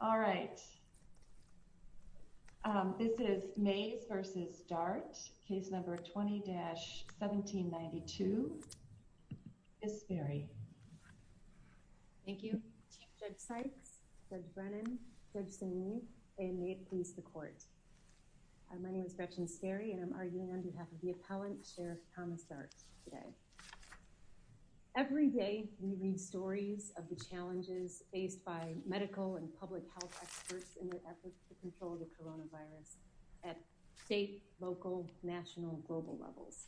All right. This is Mays v. Dart, case number 20-1792. Ms. Sperry. Thank you. Judge Sykes, Judge Brennan, Judge Sinead, and may it please the court. My name is Gretchen Sperry and I'm arguing on behalf of the appellant, Sheriff Thomas Dart, today. Every day we read stories of the challenges faced by medical and public health experts in their efforts to control the coronavirus at state, local, national, global levels.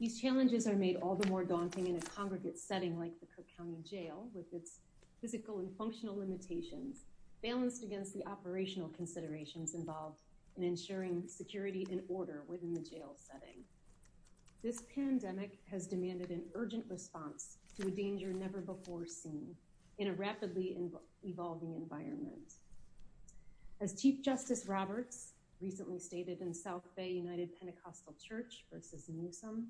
These challenges are made all the more daunting in a congregate setting like the Cook County Jail, with its physical and functional limitations balanced against the operational considerations involved in ensuring security and order within the jail setting. This pandemic has demanded an urgent response to a danger never before seen in a rapidly evolving environment. As Chief Justice Roberts recently stated in South Bay United Pentecostal Church v. Newsom,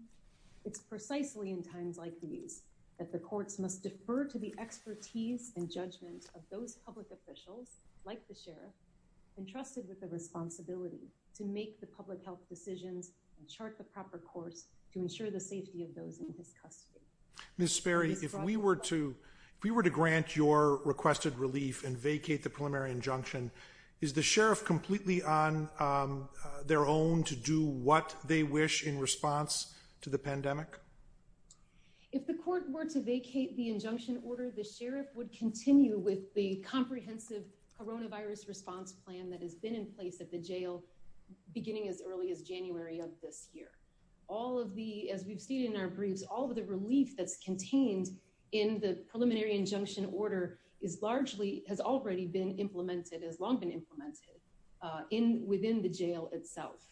it's precisely in times like these that the courts must defer to the expertise and judgment of those public officials, like the sheriff, entrusted with the responsibility to make the public health decisions and chart the proper course to ensure the safety of those in his custody. Ms. Sperry, if we were to grant your requested relief and vacate the preliminary injunction, is the sheriff completely on their own to do what they wish in response to the pandemic? If the court were to vacate the injunction order, the sheriff would continue with the comprehensive coronavirus response plan that has been in place at the jail beginning as early as January of this year. All of the, as we've seen in our briefs, all of the relief that's contained in the preliminary injunction order is largely, has already been implemented, has long been implemented within the jail itself.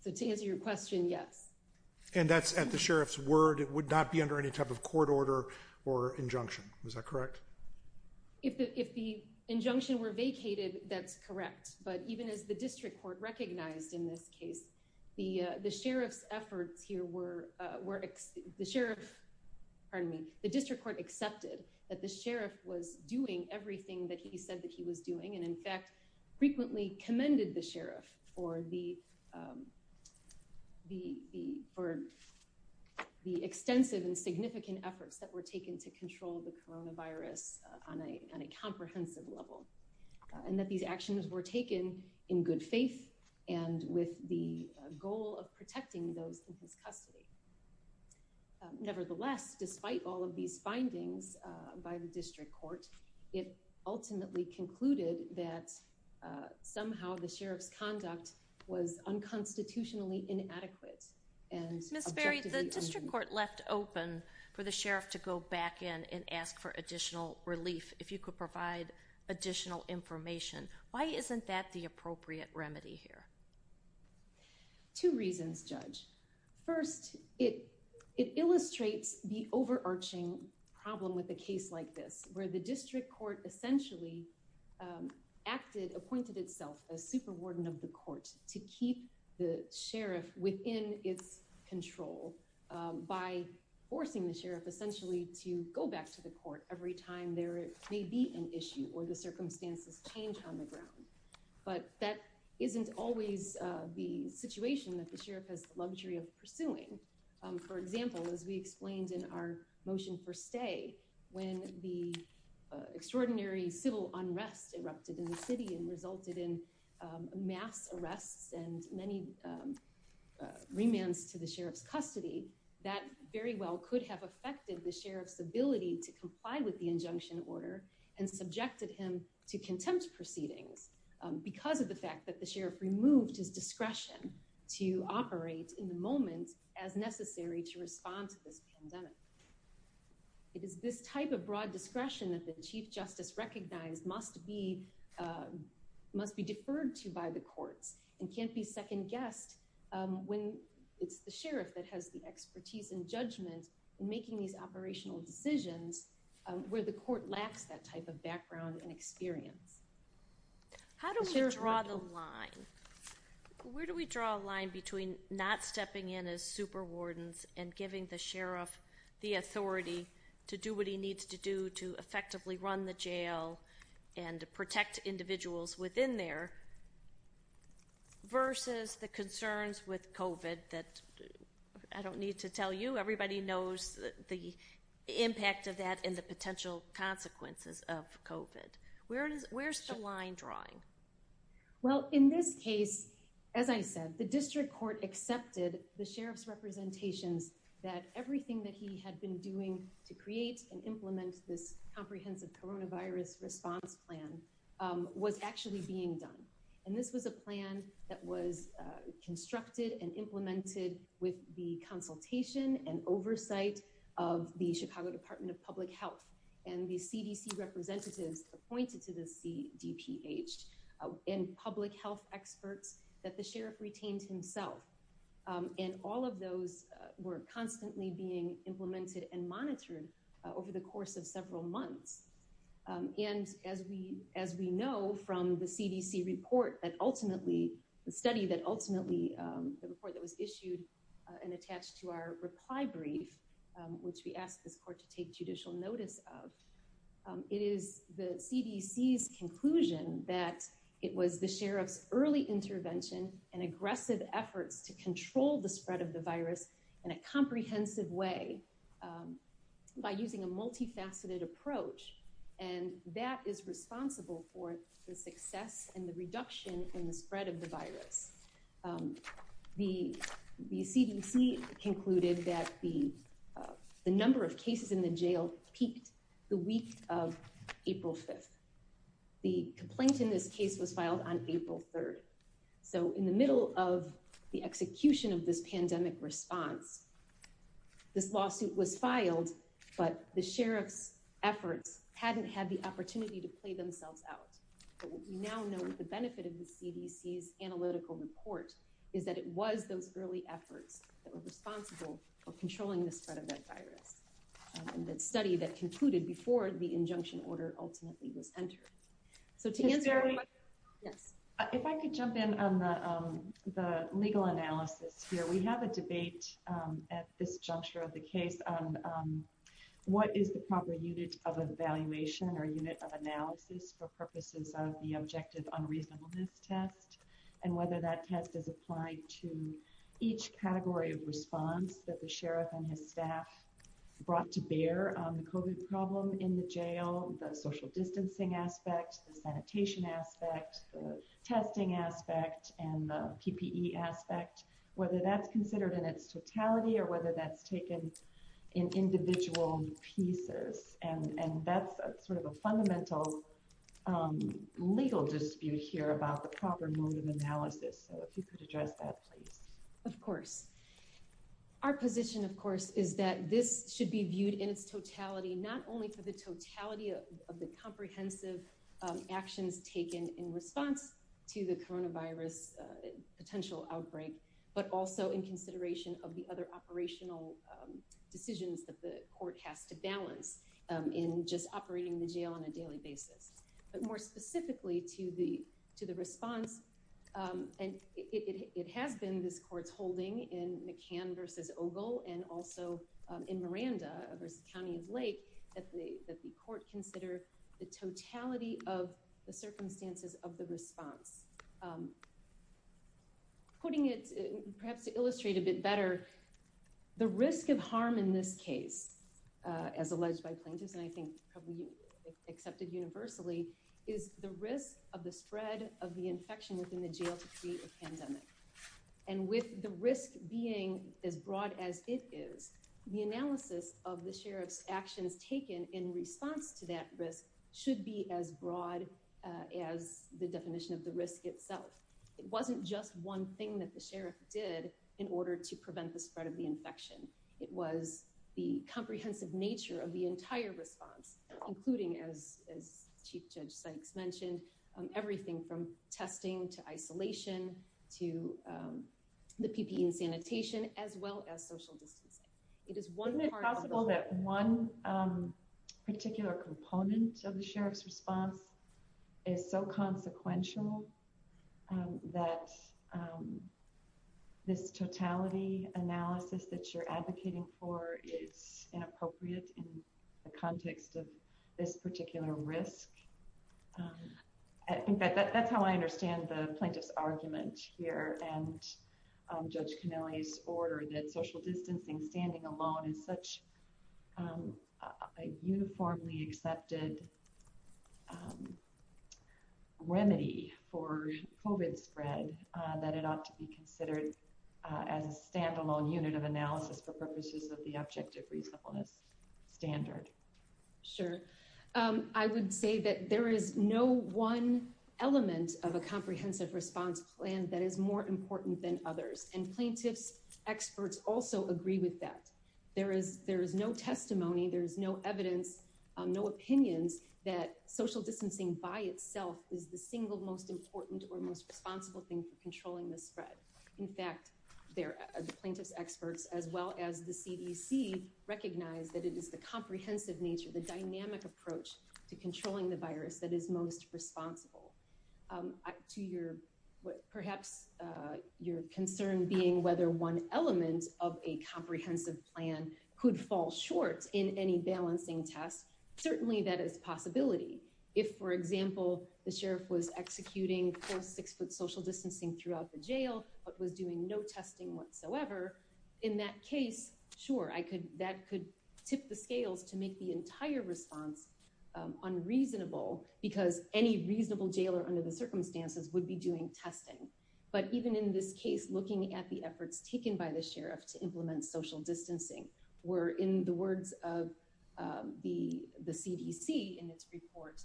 So to answer your question, yes. And that's at the sheriff's word, it would not be under any type of court order or injunction, is that correct? If the injunction were vacated, that's correct. But even as the district court recognized in this case, the sheriff's efforts here were, the sheriff, pardon me, the district court accepted that the sheriff was doing everything that he said that he was doing. And in fact, frequently commended the sheriff for the extensive and significant efforts that were taken to control the coronavirus on a comprehensive level. And that these actions were taken in good faith and with the goal of protecting those in his custody. Nevertheless, despite all of these findings by the district court, it ultimately concluded that somehow the sheriff's conduct was unconstitutionally inadequate. Ms. Berry, the district court left open for the sheriff to go back in and ask for additional relief if you could provide additional information. Why isn't that the appropriate remedy here? Two reasons, Judge. First, it illustrates the overarching problem with a case like this, where the district court essentially acted, appointed itself a super warden of the court to keep the sheriff within its control. By forcing the sheriff essentially to go back to the court every time there may be an issue or the circumstances change on the ground. But that isn't always the situation that the sheriff has the luxury of pursuing. For example, as we explained in our motion for stay, when the extraordinary civil unrest erupted in the city and resulted in mass arrests and many remands to the sheriff's custody, that very well could have affected the sheriff's ability to comply with the injunction order and subjected him to contempt proceedings because of the fact that the sheriff removed his discretion to operate in the moment as necessary to respond to this pandemic. It is this type of broad discretion that the chief justice recognized must be deferred to by the courts and can't be second guessed when it's the sheriff that has the expertise and judgment in making these operational decisions where the court lacks that type of background and experience. How do we draw the line? Where do we draw a line between not stepping in as super wardens and giving the sheriff the authority to do what he needs to do to effectively run the jail and protect individuals within there versus the concerns with COVID that I don't need to tell you. Everybody knows the impact of that and the potential consequences of COVID. Where's the line drawing? Well, in this case, as I said, the district court accepted the sheriff's representations that everything that he had been doing to create and implement this comprehensive coronavirus response plan was actually being done. And this was a plan that was constructed and implemented with the consultation and oversight of the Chicago Department of Public Health and the CDC representatives appointed to the CDPH and public health experts that the sheriff retained himself. And all of those were constantly being implemented and monitored over the course of several months. And as we know from the CDC report that ultimately the study that ultimately the report that was issued and attached to our reply brief, which we asked this court to take judicial notice of, it is the CDC's conclusion that it was the sheriff's early intervention and aggressive efforts to control the spread of the virus in a comprehensive way by using a multifaceted approach. And that is responsible for the success and the reduction in the spread of the virus. The CDC concluded that the number of cases in the jail peaked the week of April 5th. The complaint in this case was filed on April 3rd. So in the middle of the execution of this pandemic response, this lawsuit was filed, but the sheriff's efforts hadn't had the opportunity to play themselves out. But what we now know the benefit of the CDC's analytical report is that it was those early efforts that were responsible for controlling the spread of that virus. And that study that concluded before the injunction order ultimately was entered. If I could jump in on the legal analysis here. We have a debate at this juncture of the case on what is the proper unit of evaluation or unit of analysis for purposes of the objective unreasonableness test and whether that test is applied to each category of response that the sheriff and his staff brought to bear on the COVID problem in the jail. The social distancing aspect, the sanitation aspect, the testing aspect, and the PPE aspect, whether that's considered in its totality or whether that's taken in individual pieces. And that's sort of a fundamental legal dispute here about the proper mode of analysis. So if you could address that, please. Of course, our position of course is that this should be viewed in its totality, not only for the totality of the comprehensive actions taken in response to the coronavirus potential outbreak, but also in consideration of the other operational decisions that the court has to balance in just operating the jail on a daily basis. But more specifically to the response, and it has been this court's holding in McCann v. Ogle and also in Miranda v. County of Lake that the court consider the totality of the circumstances of the response. Putting it perhaps to illustrate a bit better, the risk of harm in this case, as alleged by plaintiffs, and I think probably accepted universally, is the risk of the spread of the infection within the jail to create a pandemic. And with the risk being as broad as it is, the analysis of the sheriff's actions taken in response to that risk should be as broad as the definition of the risk itself. It wasn't just one thing that the sheriff did in order to prevent the spread of the infection. It was the comprehensive nature of the entire response, including, as Chief Judge Sykes mentioned, everything from testing to isolation to the PPE and sanitation, as well as social distancing. Isn't it possible that one particular component of the sheriff's response is so consequential that this totality analysis that you're advocating for is inappropriate in the context of this particular risk? I think that's how I understand the plaintiff's argument here and Judge Connelly's order that social distancing, standing alone, is such a uniformly accepted remedy for COVID spread that it ought to be considered as a standalone unit of analysis for purposes of the objective reasonableness standard. Sure. I would say that there is no one element of a comprehensive response plan that is more important than others, and plaintiffs' experts also agree with that. There is no testimony, there is no evidence, no opinions that social distancing by itself is the single most important or most responsible thing for controlling the spread. In fact, the plaintiff's experts, as well as the CDC, recognize that it is the comprehensive nature, the dynamic approach to controlling the virus that is most responsible. To perhaps your concern being whether one element of a comprehensive plan could fall short in any balancing test, certainly that is a possibility. If, for example, the sheriff was executing forced six-foot social distancing throughout the jail but was doing no testing whatsoever, in that case, sure, that could tip the scales to make the entire response unreasonable because any reasonable jailor under the circumstances would be doing testing. But even in this case, looking at the efforts taken by the sheriff to implement social distancing were, in the words of the CDC in its report,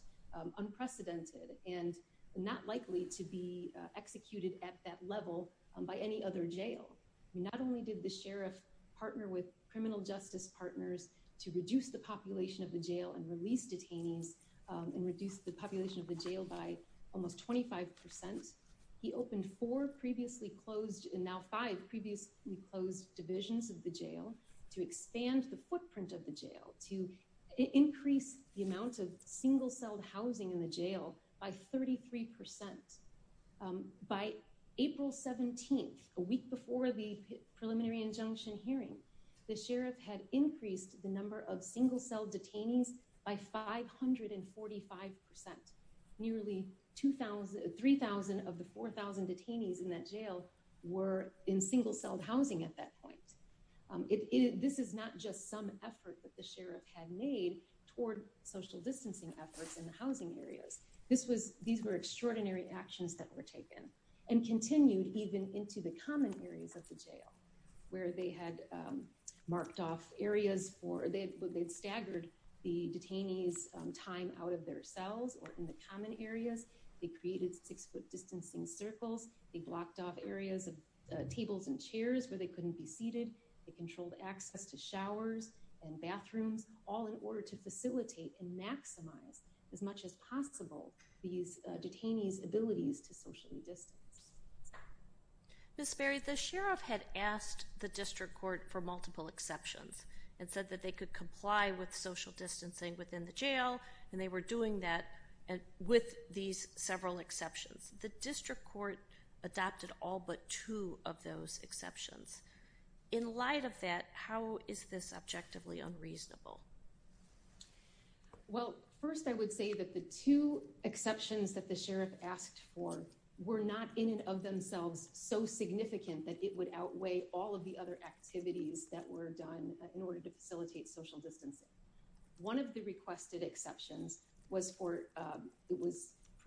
unprecedented and not likely to be executed at that level by any other jail. Not only did the sheriff partner with criminal justice partners to reduce the population of the jail and release detainees and reduce the population of the jail by almost 25 percent, he opened four previously closed and now five previously closed divisions of the jail to expand the footprint of the jail, to increase the amount of single-celled housing in the jail by 33 percent. By April 17th, a week before the preliminary injunction hearing, the sheriff had increased the number of single-celled detainees by 545 percent. Nearly 3,000 of the 4,000 detainees in that jail were in single-celled housing at that point. This is not just some effort that the sheriff had made toward social distancing efforts in the housing areas. These were extraordinary actions that were taken and continued even into the common areas of the jail, where they had marked off areas where they had staggered the detainees' time out of their cells or in the common areas. They created six-foot distancing circles. They blocked off areas of tables and chairs where they couldn't be seated. They controlled access to showers and bathrooms, all in order to facilitate and maximize as much as possible these detainees' abilities to socially distance. Ms. Berry, the sheriff had asked the district court for multiple exceptions and said that they could comply with social distancing within the jail, and they were doing that with these several exceptions. The district court adopted all but two of those exceptions. In light of that, how is this objectively unreasonable? Well, first I would say that the two exceptions that the sheriff asked for were not in and of themselves so significant that it would outweigh all of the other activities that were done in order to facilitate social distancing. One of the requested exceptions was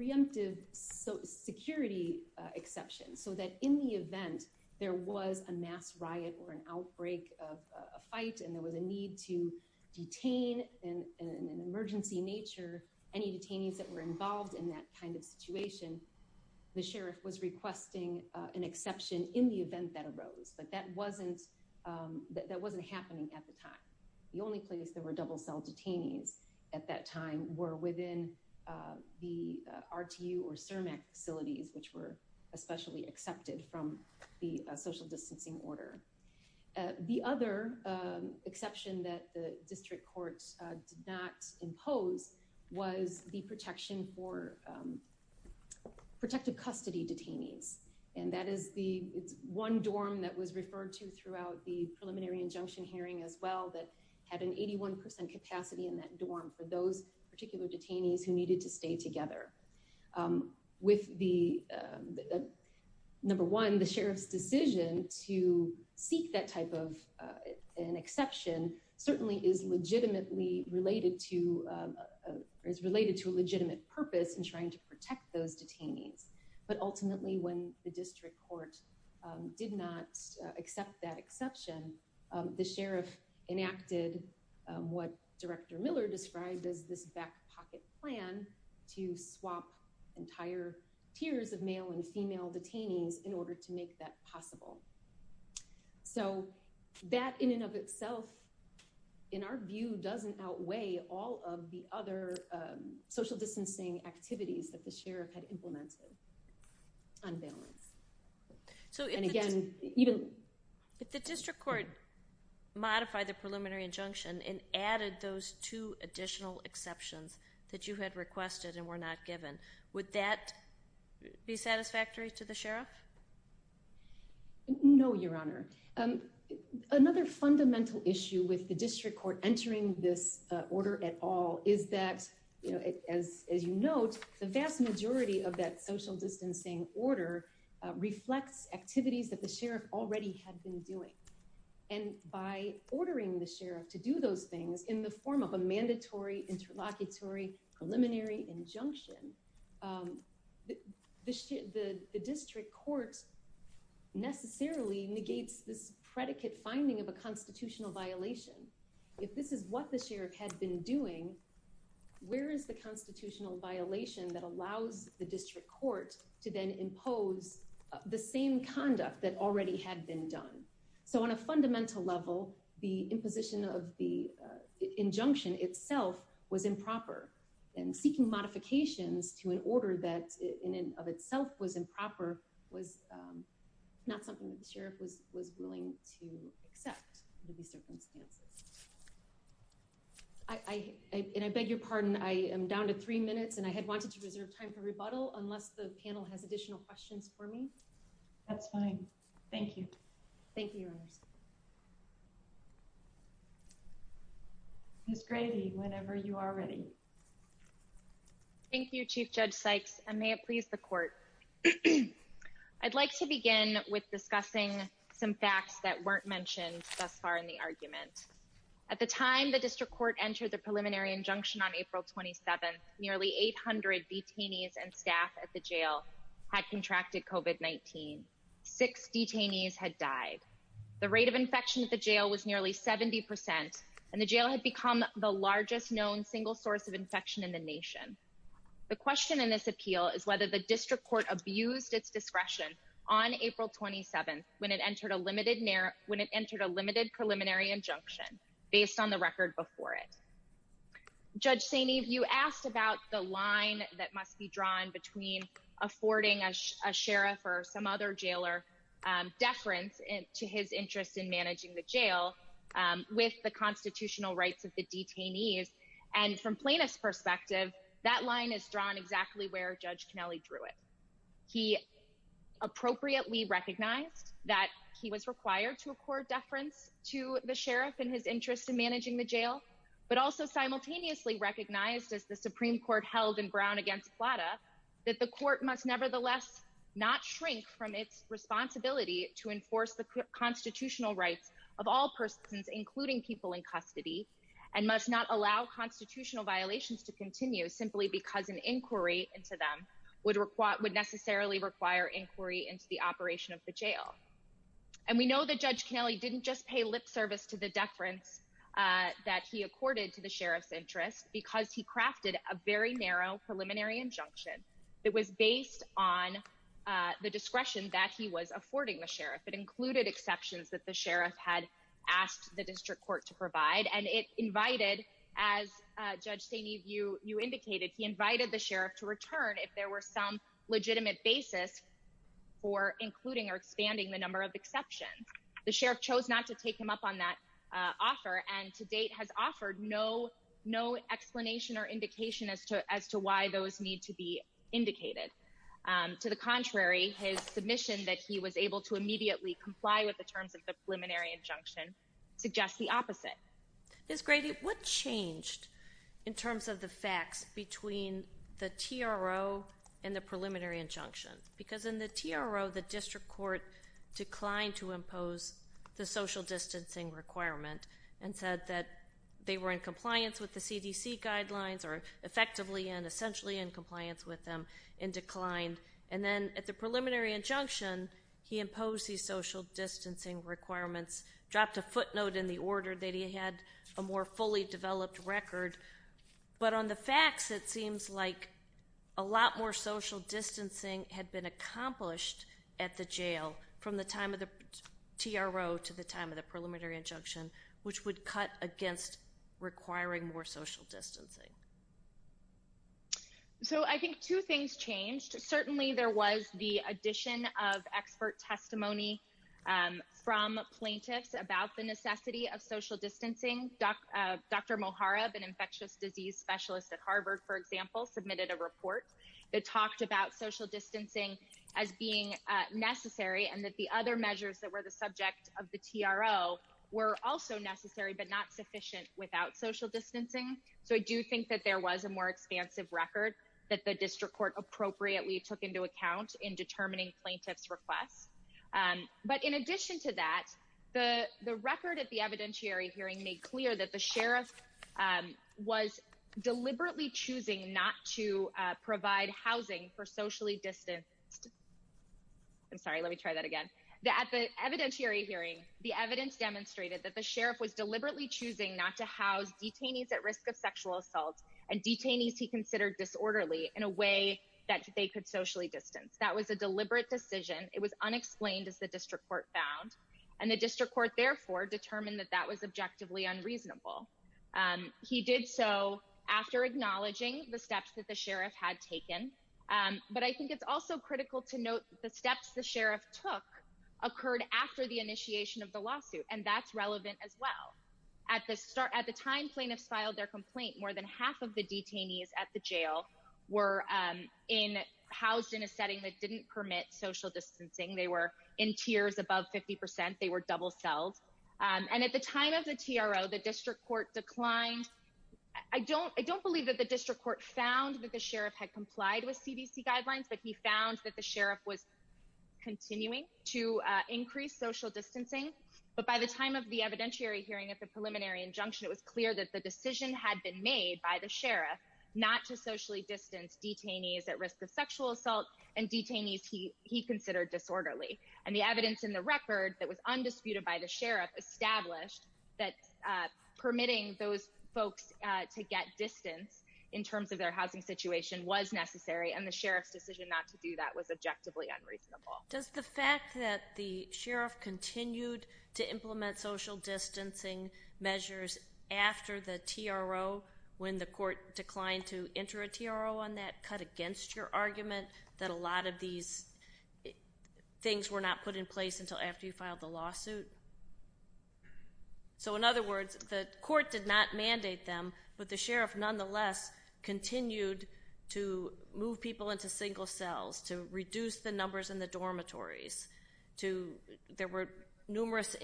preemptive security exception, so that in the event there was a mass riot or an outbreak of a fight and there was a need to detain in an emergency nature any detainees that were involved in that kind of situation, the sheriff was requesting an exception in the event that arose, but that wasn't happening at the time. The only place there were double cell detainees at that time were within the RTU or CIRMAC facilities, which were especially accepted from the social distancing order. The other exception that the district court did not impose was the protection for protective custody detainees, and that is the one dorm that was referred to throughout the preliminary injunction hearing as well that had an 81% capacity in that dorm for those particular detainees who needed to stay together. Number one, the sheriff's decision to seek that type of an exception certainly is related to a legitimate purpose in trying to protect those detainees, but ultimately when the district court did not accept that exception, the sheriff enacted what Director Miller described as this back pocket plan to swap entire tiers of male and female detainees in order to make that possible. So that in and of itself, in our view, doesn't outweigh all of the other social distancing activities that the sheriff had implemented on balance. So if the district court modified the preliminary injunction and added those two additional exceptions that you had requested and were not given, would that be satisfactory to the sheriff? No, Your Honor. Another fundamental issue with the district court entering this order at all is that, as you note, the vast majority of that social distancing order reflects activities that the sheriff already had been doing. And by ordering the sheriff to do those things in the form of a mandatory interlocutory preliminary injunction, the district court necessarily negates this predicate finding of a constitutional violation. If this is what the sheriff had been doing, where is the constitutional violation that allows the district court to then impose the same conduct that already had been done? So on a fundamental level, the imposition of the injunction itself was improper and seeking modifications to an order that in and of itself was improper was not something that the sheriff was willing to accept under these circumstances. And I beg your pardon, I am down to three minutes and I had wanted to reserve time for rebuttal unless the panel has additional questions for me. That's fine. Thank you. Thank you, Your Honor. Ms. Grady, whenever you are ready. Thank you, Chief Judge Sykes, and may it please the court. I'd like to begin with discussing some facts that weren't mentioned thus far in the argument. At the time the district court entered the preliminary injunction on April 27th, nearly 800 detainees and staff at the jail had contracted COVID-19. Six detainees had died. The rate of infection at the jail was nearly 70% and the jail had become the largest known single source of infection in the nation. The question in this appeal is whether the district court abused its discretion on April 27th when it entered a limited preliminary injunction based on the record before it. Judge Saini, you asked about the line that must be drawn between affording a sheriff or some other jailer deference to his interest in managing the jail with the constitutional rights of the detainees. And from Plaintiff's perspective, that line is drawn exactly where Judge Kennelly drew it. He appropriately recognized that he was required to accord deference to the sheriff in his interest in managing the jail, but also simultaneously recognized as the Supreme Court held in Brown against Plata that the court must nevertheless not shrink from its responsibility to enforce the constitutional rights of all persons, including people in custody, and must not allow constitutional violations to continue simply because an inquiry into them would necessarily require inquiry into the operation of the jail. And we know that Judge Kennelly didn't just pay lip service to the deference that he accorded to the sheriff's interest because he crafted a very narrow preliminary injunction that was based on the discretion that he was affording the sheriff. It included exceptions that the sheriff had asked the district court to provide. And it invited, as Judge Saini, you indicated, he invited the sheriff to return if there were some legitimate basis for including or expanding the number of exceptions. The sheriff chose not to take him up on that offer and to date has offered no explanation or indication as to why those need to be indicated. To the contrary, his submission that he was able to immediately comply with the terms of the preliminary injunction suggests the opposite. Ms. Grady, what changed in terms of the facts between the TRO and the preliminary injunction? Because in the TRO, the district court declined to impose the social distancing requirement and said that they were in compliance with the CDC guidelines, or effectively and essentially in compliance with them, and declined. And then at the preliminary injunction, he imposed these social distancing requirements, dropped a footnote in the order that he had a more fully developed record. But on the facts, it seems like a lot more social distancing had been accomplished at the jail from the time of the TRO to the time of the preliminary injunction, which would cut against requiring more social distancing. So I think two things changed. Certainly there was the addition of expert testimony from plaintiffs about the necessity of social distancing. Dr. Mohareb, an infectious disease specialist at Harvard, for example, submitted a report that talked about social distancing as being necessary, and that the other measures that were the subject of the TRO were also necessary but not sufficient without social distancing. So I do think that there was a more expansive record that the district court appropriately took into account in determining plaintiffs' requests. But in addition to that, the record at the evidentiary hearing made clear that the sheriff was deliberately choosing not to provide housing for socially distanced— I'm sorry, let me try that again. At the evidentiary hearing, the evidence demonstrated that the sheriff was deliberately choosing not to house detainees at risk of sexual assault and detainees he considered disorderly in a way that they could socially distance. That was a deliberate decision. It was unexplained, as the district court found. And the district court, therefore, determined that that was objectively unreasonable. He did so after acknowledging the steps that the sheriff had taken. But I think it's also critical to note the steps the sheriff took occurred after the initiation of the lawsuit, and that's relevant as well. At the time plaintiffs filed their complaint, more than half of the detainees at the jail were housed in a setting that didn't permit social distancing. They were in tiers above 50%. They were double-celled. And at the time of the TRO, the district court declined— I don't believe that the district court found that the sheriff had complied with CDC guidelines, but he found that the sheriff was continuing to increase social distancing. But by the time of the evidentiary hearing at the preliminary injunction, it was clear that the decision had been made by the sheriff not to socially distance detainees at risk of sexual assault and detainees he considered disorderly. And the evidence in the record that was undisputed by the sheriff established that permitting those folks to get distance in terms of their housing situation was necessary, and the sheriff's decision not to do that was objectively unreasonable. Does the fact that the sheriff continued to implement social distancing measures after the TRO, when the court declined to enter a TRO on that, cut against your argument that a lot of these things were not put in place until after you filed the lawsuit? So in other words, the court did not mandate them, but the sheriff nonetheless continued to move people into single cells, to reduce the numbers in the dormitories, to—there were numerous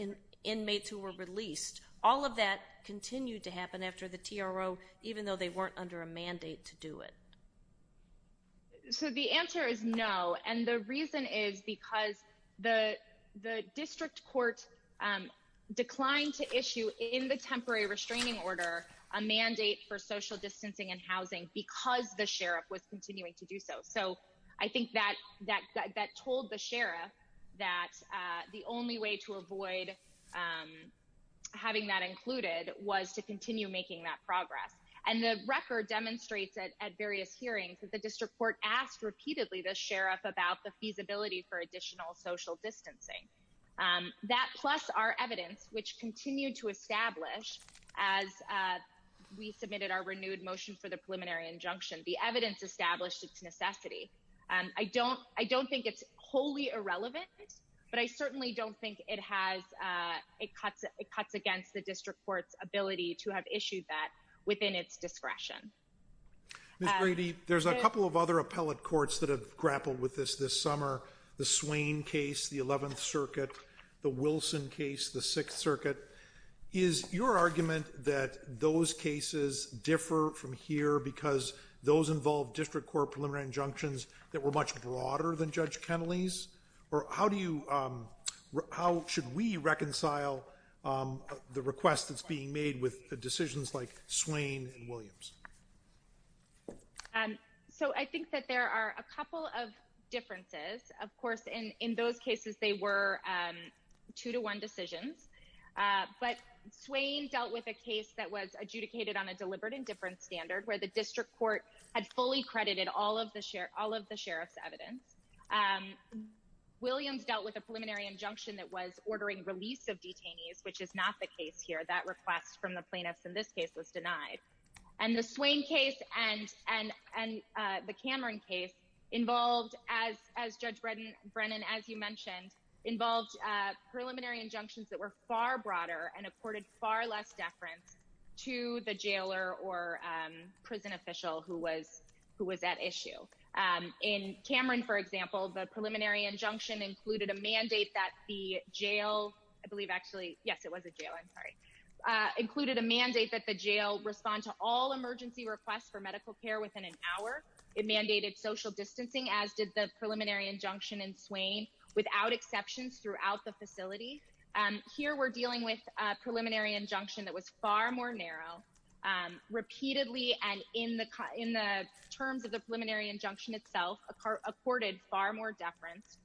inmates who were released. All of that continued to happen after the TRO, even though they weren't under a mandate to do it. So the answer is no, and the reason is because the district court declined to issue in the temporary restraining order a mandate for social distancing and housing because the sheriff was continuing to do so. So I think that told the sheriff that the only way to avoid having that included was to continue making that progress. And the record demonstrates at various hearings that the district court asked repeatedly the sheriff about the feasibility for additional social distancing. That, plus our evidence, which continued to establish as we submitted our renewed motion for the preliminary injunction, the evidence established its necessity. I don't think it's wholly irrelevant, but I certainly don't think it has—it cuts against the district court's ability to have issued that within its discretion. Ms. Brady, there's a couple of other appellate courts that have grappled with this this summer, the Swain case, the Eleventh Circuit, the Wilson case, the Sixth Circuit. Is your argument that those cases differ from here because those involve district court preliminary injunctions that were much broader than Judge Kennelly's? Or how do you—how should we reconcile the request that's being made with decisions like Swain and Williams? So I think that there are a couple of differences. Of course, in those cases, they were two-to-one decisions. But Swain dealt with a case that was adjudicated on a deliberate indifference standard where the district court had fully credited all of the sheriff's evidence. Williams dealt with a preliminary injunction that was ordering release of detainees, which is not the case here. That request from the plaintiffs in this case was denied. And the Swain case and the Cameron case involved, as Judge Brennan, as you mentioned, involved preliminary injunctions that were far broader and accorded far less deference to the jailer or prison official who was at issue. In Cameron, for example, the preliminary injunction included a mandate that the jail—I believe, actually, yes, it was a jail. I'm sorry. Included a mandate that the jail respond to all emergency requests for medical care within an hour. It mandated social distancing, as did the preliminary injunction in Swain, without exceptions throughout the facility. Here, we're dealing with a preliminary injunction that was far more narrow, repeatedly, and in the terms of the preliminary injunction itself, accorded far more deference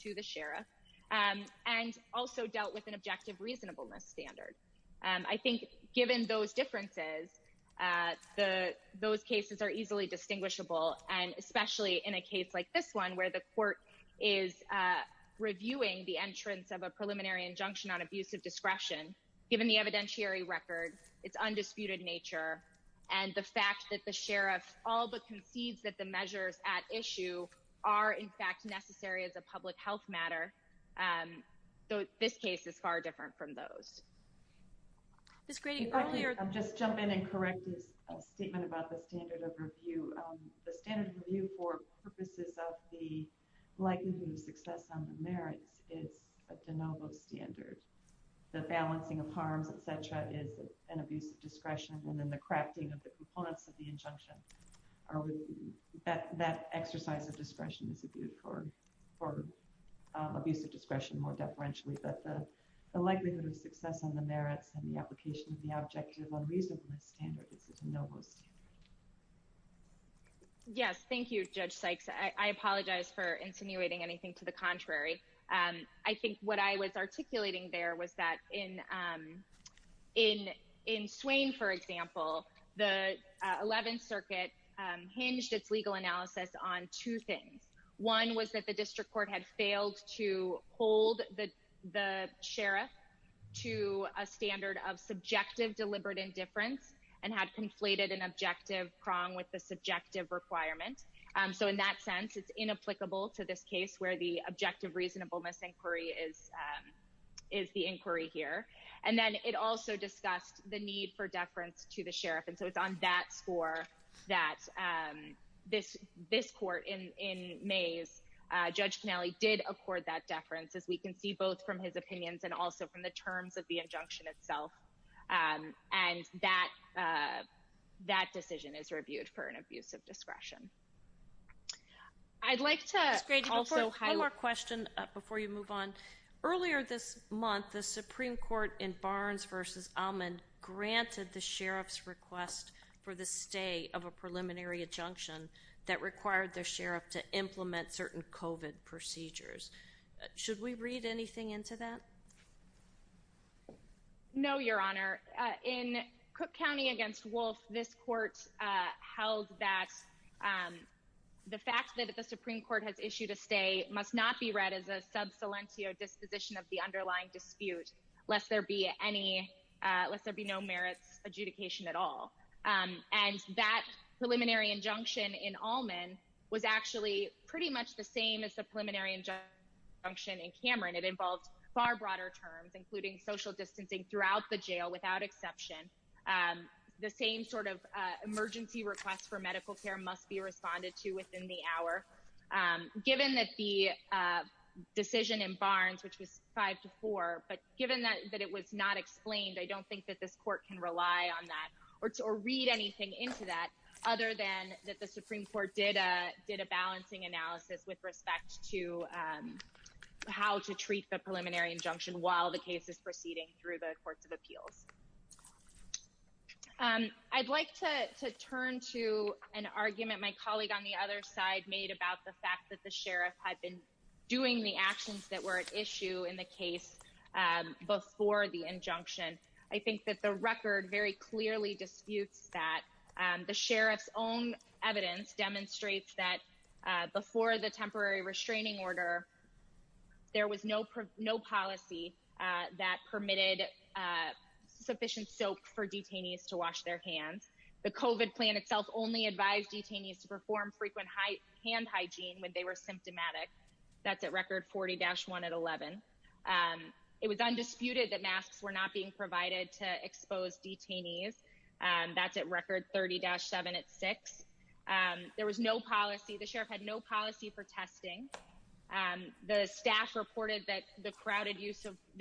to the sheriff, and also dealt with an objective reasonableness standard. I think, given those differences, those cases are easily distinguishable, and especially in a case like this one, where the court is reviewing the entrance of a preliminary injunction on abusive discretion, given the evidentiary record, its undisputed nature, and the fact that the sheriff all but concedes that the measures at issue are, in fact, necessary as a public health matter. This case is far different from those. Ms. Grady, earlier— If I could just jump in and correct a statement about the standard of review. The standard of review for purposes of the likelihood of success on the merits is a de novo standard. The balancing of harms, et cetera, is an abuse of discretion, and then the crafting of the components of the injunction, that exercise of discretion is for abuse of discretion more deferentially, but the likelihood of success on the merits and the application of the objective reasonableness standard is a de novo standard. Yes, thank you, Judge Sykes. I apologize for insinuating anything to the contrary. I think what I was articulating there was that in Swain, for example, the Eleventh Circuit hinged its legal analysis on two things. One was that the district court had failed to hold the sheriff to a standard of subjective deliberate indifference and had conflated an objective prong with the subjective requirement. So in that sense, it's inapplicable to this case where the objective reasonableness inquiry is the inquiry here. And then it also discussed the need for deference to the sheriff, and so it's on that score that this court in Mays, Judge Kennelly did accord that deference, as we can see both from his opinions and also from the terms of the injunction itself, and that decision is reviewed for an abuse of discretion. Ms. Grady, one more question before you move on. Earlier this month, the Supreme Court in Barnes v. Almond granted the sheriff's request for the stay of a preliminary injunction that required the sheriff to implement certain COVID procedures. Should we read anything into that? No, Your Honor. In Cook County v. Wolfe, this court held that the fact that the Supreme Court has issued a stay must not be read as a sub salentio disposition of the underlying dispute, lest there be no merits adjudication at all. And that preliminary injunction in Almond was actually pretty much the same as the preliminary injunction in Cameron. It involved far broader terms, including social distancing throughout the jail without exception. The same sort of emergency request for medical care must be responded to within the hour. Given that the decision in Barnes, which was 5-4, but given that it was not explained, I don't think that this court can rely on that or read anything into that other than that the Supreme Court did a balancing analysis with respect to how to treat the preliminary injunction while the case is proceeding through the courts of appeals. I'd like to turn to an argument my colleague on the other side made about the fact that the sheriff had been doing the actions that were at issue in the case before the injunction. I think that the record very clearly disputes that. The sheriff's own evidence demonstrates that before the temporary restraining order, there was no policy that permitted sufficient soap for detainees to wash their hands. The COVID plan itself only advised detainees to perform frequent hand hygiene when they were symptomatic. That's at record 40-1 at 11. It was undisputed that masks were not being provided to expose detainees. That's at record 30-7 at 6. There was no policy. The sheriff had no policy for testing. The staff reported that the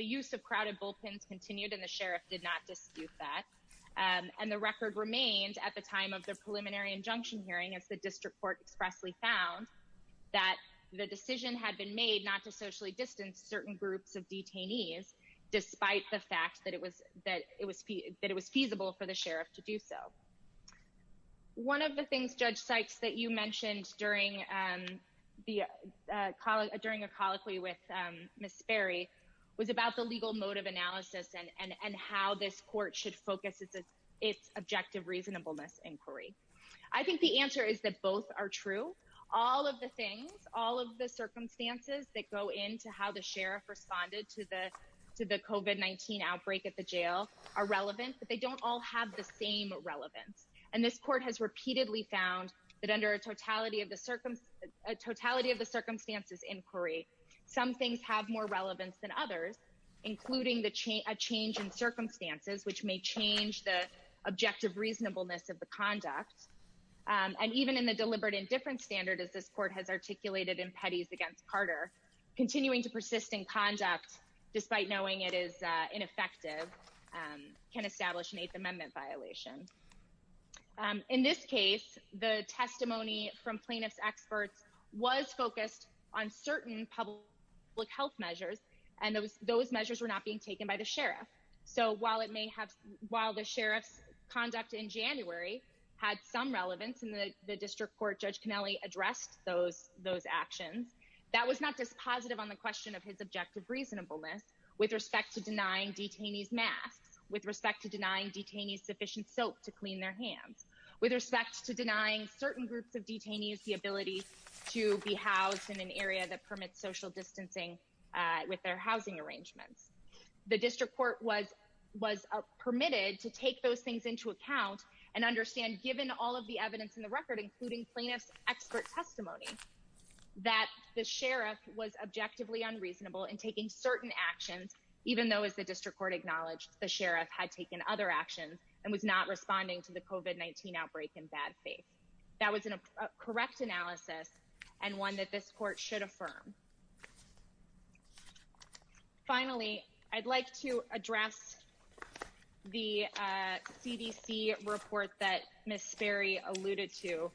use of crowded bullpens continued, and the sheriff did not dispute that. And the record remained at the time of the preliminary injunction hearing as the district court expressly found that the decision had been made not to socially distance certain groups of detainees, despite the fact that it was feasible for the sheriff to do so. One of the things, Judge Sykes, that you mentioned during a colloquy with Miss Ferry was about the legal mode of analysis and how this court should focus its objective reasonableness inquiry. I think the answer is that both are true. All of the things, all of the circumstances that go into how the sheriff responded to the COVID-19 outbreak at the jail are relevant, but they don't all have the same relevance. And this court has repeatedly found that under a totality of the circumstances inquiry, some things have more relevance than others, including a change in circumstances, which may change the objective reasonableness of the conduct. And even in the deliberate indifference standard, as this court has articulated in petties against Carter, continuing to persist in conduct, despite knowing it is ineffective, can establish an Eighth Amendment violation. In this case, the testimony from plaintiff's experts was focused on certain public health measures, and those measures were not being taken by the sheriff. So while the sheriff's conduct in January had some relevance in the district court, Judge Connelly addressed those actions. That was not dispositive on the question of his objective reasonableness with respect to denying detainees masks, with respect to denying detainees sufficient soap to clean their hands, with respect to denying certain groups of detainees the ability to be housed in an area that permits social distancing with their housing arrangements. The district court was permitted to take those things into account and understand, given all of the evidence in the record, including plaintiff's expert testimony, that the sheriff was objectively unreasonable in taking certain actions, even though, as the district court acknowledged, the sheriff had taken other actions and was not responding to the COVID-19 outbreak in bad faith. That was a correct analysis and one that this court should affirm. Finally, I'd like to address the CDC report that Ms. Sperry alluded to.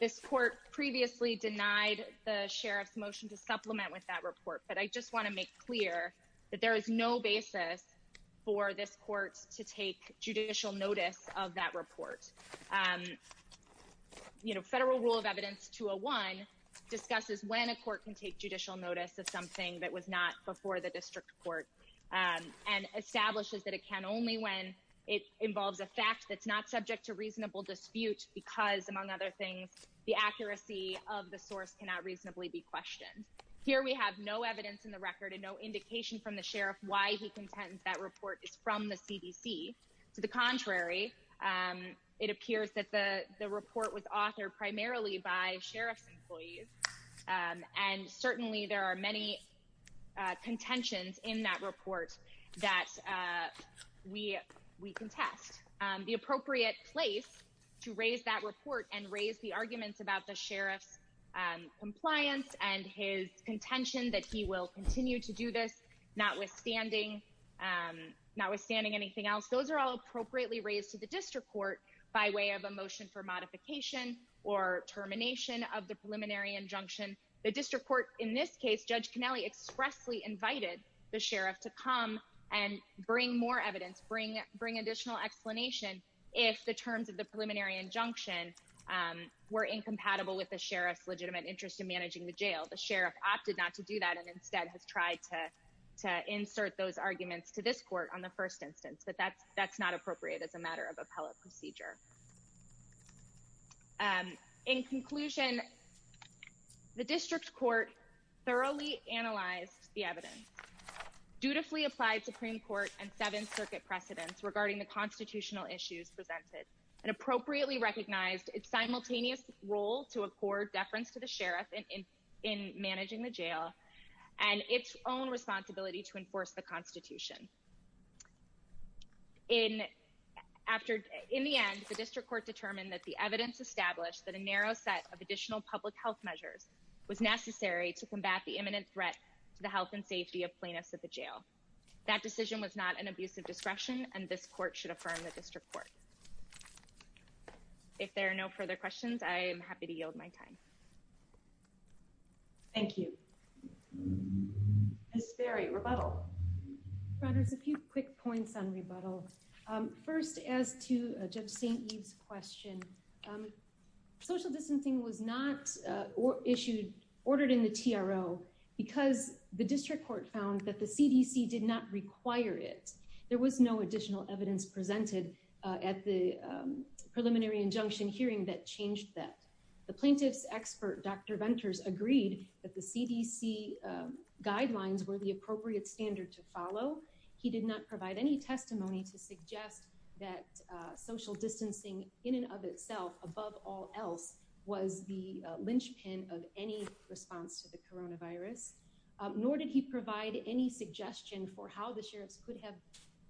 This court previously denied the sheriff's motion to supplement with that report, but I just want to make clear that there is no basis for this court to take judicial notice of that report. Federal Rule of Evidence 201 discusses when a court can take judicial notice of something that was not before the district court, and establishes that it can only when it involves a fact that's not subject to reasonable dispute because, among other things, the accuracy of the source cannot reasonably be questioned. Here we have no evidence in the record and no indication from the sheriff why he contends that report is from the CDC. To the contrary, it appears that the report was authored primarily by sheriff's employees, and certainly there are many contentions in that report that we contest. The appropriate place to raise that report and raise the arguments about the sheriff's compliance and his contention that he will continue to do this, notwithstanding anything else, those are all appropriately raised to the district court by way of a motion for modification or termination of the preliminary injunction. The district court, in this case, Judge Connelly expressly invited the sheriff to come and bring more evidence, bring additional explanation, if the terms of the preliminary injunction were incompatible with the sheriff's legitimate interest in managing the jail. The sheriff opted not to do that and instead has tried to insert those arguments to this court on the first instance, but that's not appropriate as a matter of appellate procedure. In conclusion, the district court thoroughly analyzed the evidence, dutifully applied Supreme Court and Seventh Circuit precedents regarding the constitutional issues presented, and appropriately recognized its simultaneous role to accord deference to the sheriff in managing the jail and its own responsibility to enforce the Constitution. In the end, the district court determined that the evidence established that a narrow set of additional public health measures was necessary to combat the imminent threat to the health and safety of plaintiffs at the jail. That decision was not an abuse of discretion and this court should affirm the district court. If there are no further questions, I am happy to yield my time. Thank you. Ms. Ferry, rebuttal. There's a few quick points on rebuttal. First, as to Judge St. Eve's question, social distancing was not issued, ordered in the TRO because the district court found that the CDC did not require it. There was no additional evidence presented at the preliminary injunction hearing that changed that. The plaintiff's expert, Dr. Venters, agreed that the CDC guidelines were the appropriate standard to follow. He did not provide any testimony to suggest that social distancing in and of itself, above all else, was the linchpin of any response to the coronavirus. Nor did he provide any suggestion for how the sheriff's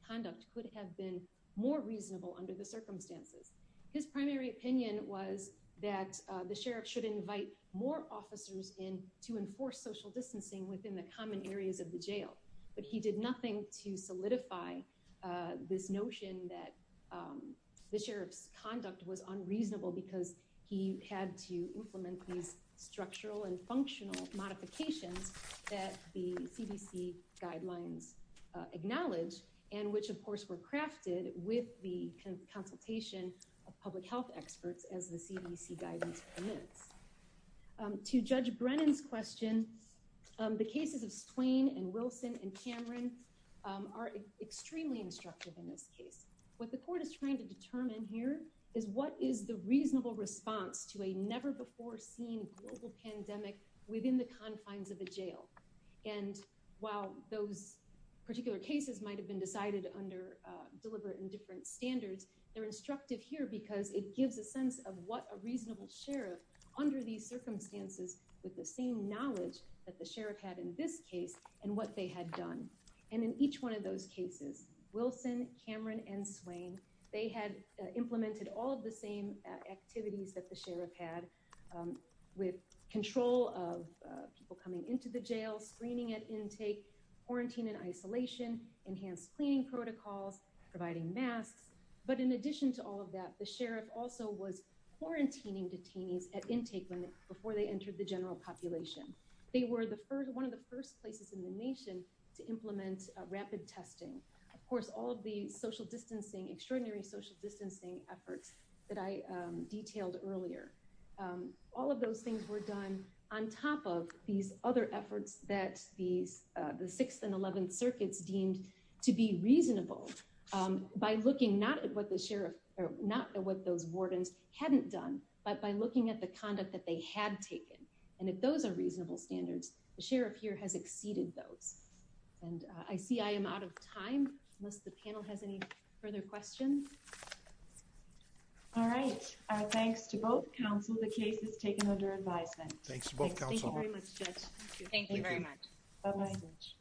conduct could have been more reasonable under the circumstances. His primary opinion was that the sheriff should invite more officers in to enforce social distancing within the common areas of the jail. But he did nothing to solidify this notion that the sheriff's conduct was unreasonable because he had to implement these structural and functional modifications that the CDC guidelines acknowledge. And which, of course, were crafted with the consultation of public health experts as the CDC guidance permits. To Judge Brennan's question, the cases of Swain and Wilson and Cameron are extremely instructive in this case. What the court is trying to determine here is what is the reasonable response to a never-before-seen global pandemic within the confines of a jail. And while those particular cases might have been decided under deliberate and different standards, they're instructive here because it gives a sense of what a reasonable sheriff, under these circumstances, with the same knowledge that the sheriff had in this case and what they had done. And in each one of those cases, Wilson, Cameron, and Swain, they had implemented all of the same activities that the sheriff had with control of people coming into the jail, screening at intake, quarantine in isolation, enhanced cleaning protocols, providing masks. But in addition to all of that, the sheriff also was quarantining detainees at intake before they entered the general population. They were one of the first places in the nation to implement rapid testing. Of course, all of the social distancing, extraordinary social distancing efforts that I detailed earlier. All of those things were done on top of these other efforts that the 6th and 11th circuits deemed to be reasonable by looking not at what those wardens hadn't done, but by looking at the conduct that they had taken. And if those are reasonable standards, the sheriff here has exceeded those. And I see I am out of time, unless the panel has any further questions. All right. Thanks to both counsel. The case is taken under advisement. Thank you very much, Judge. Thank you very much.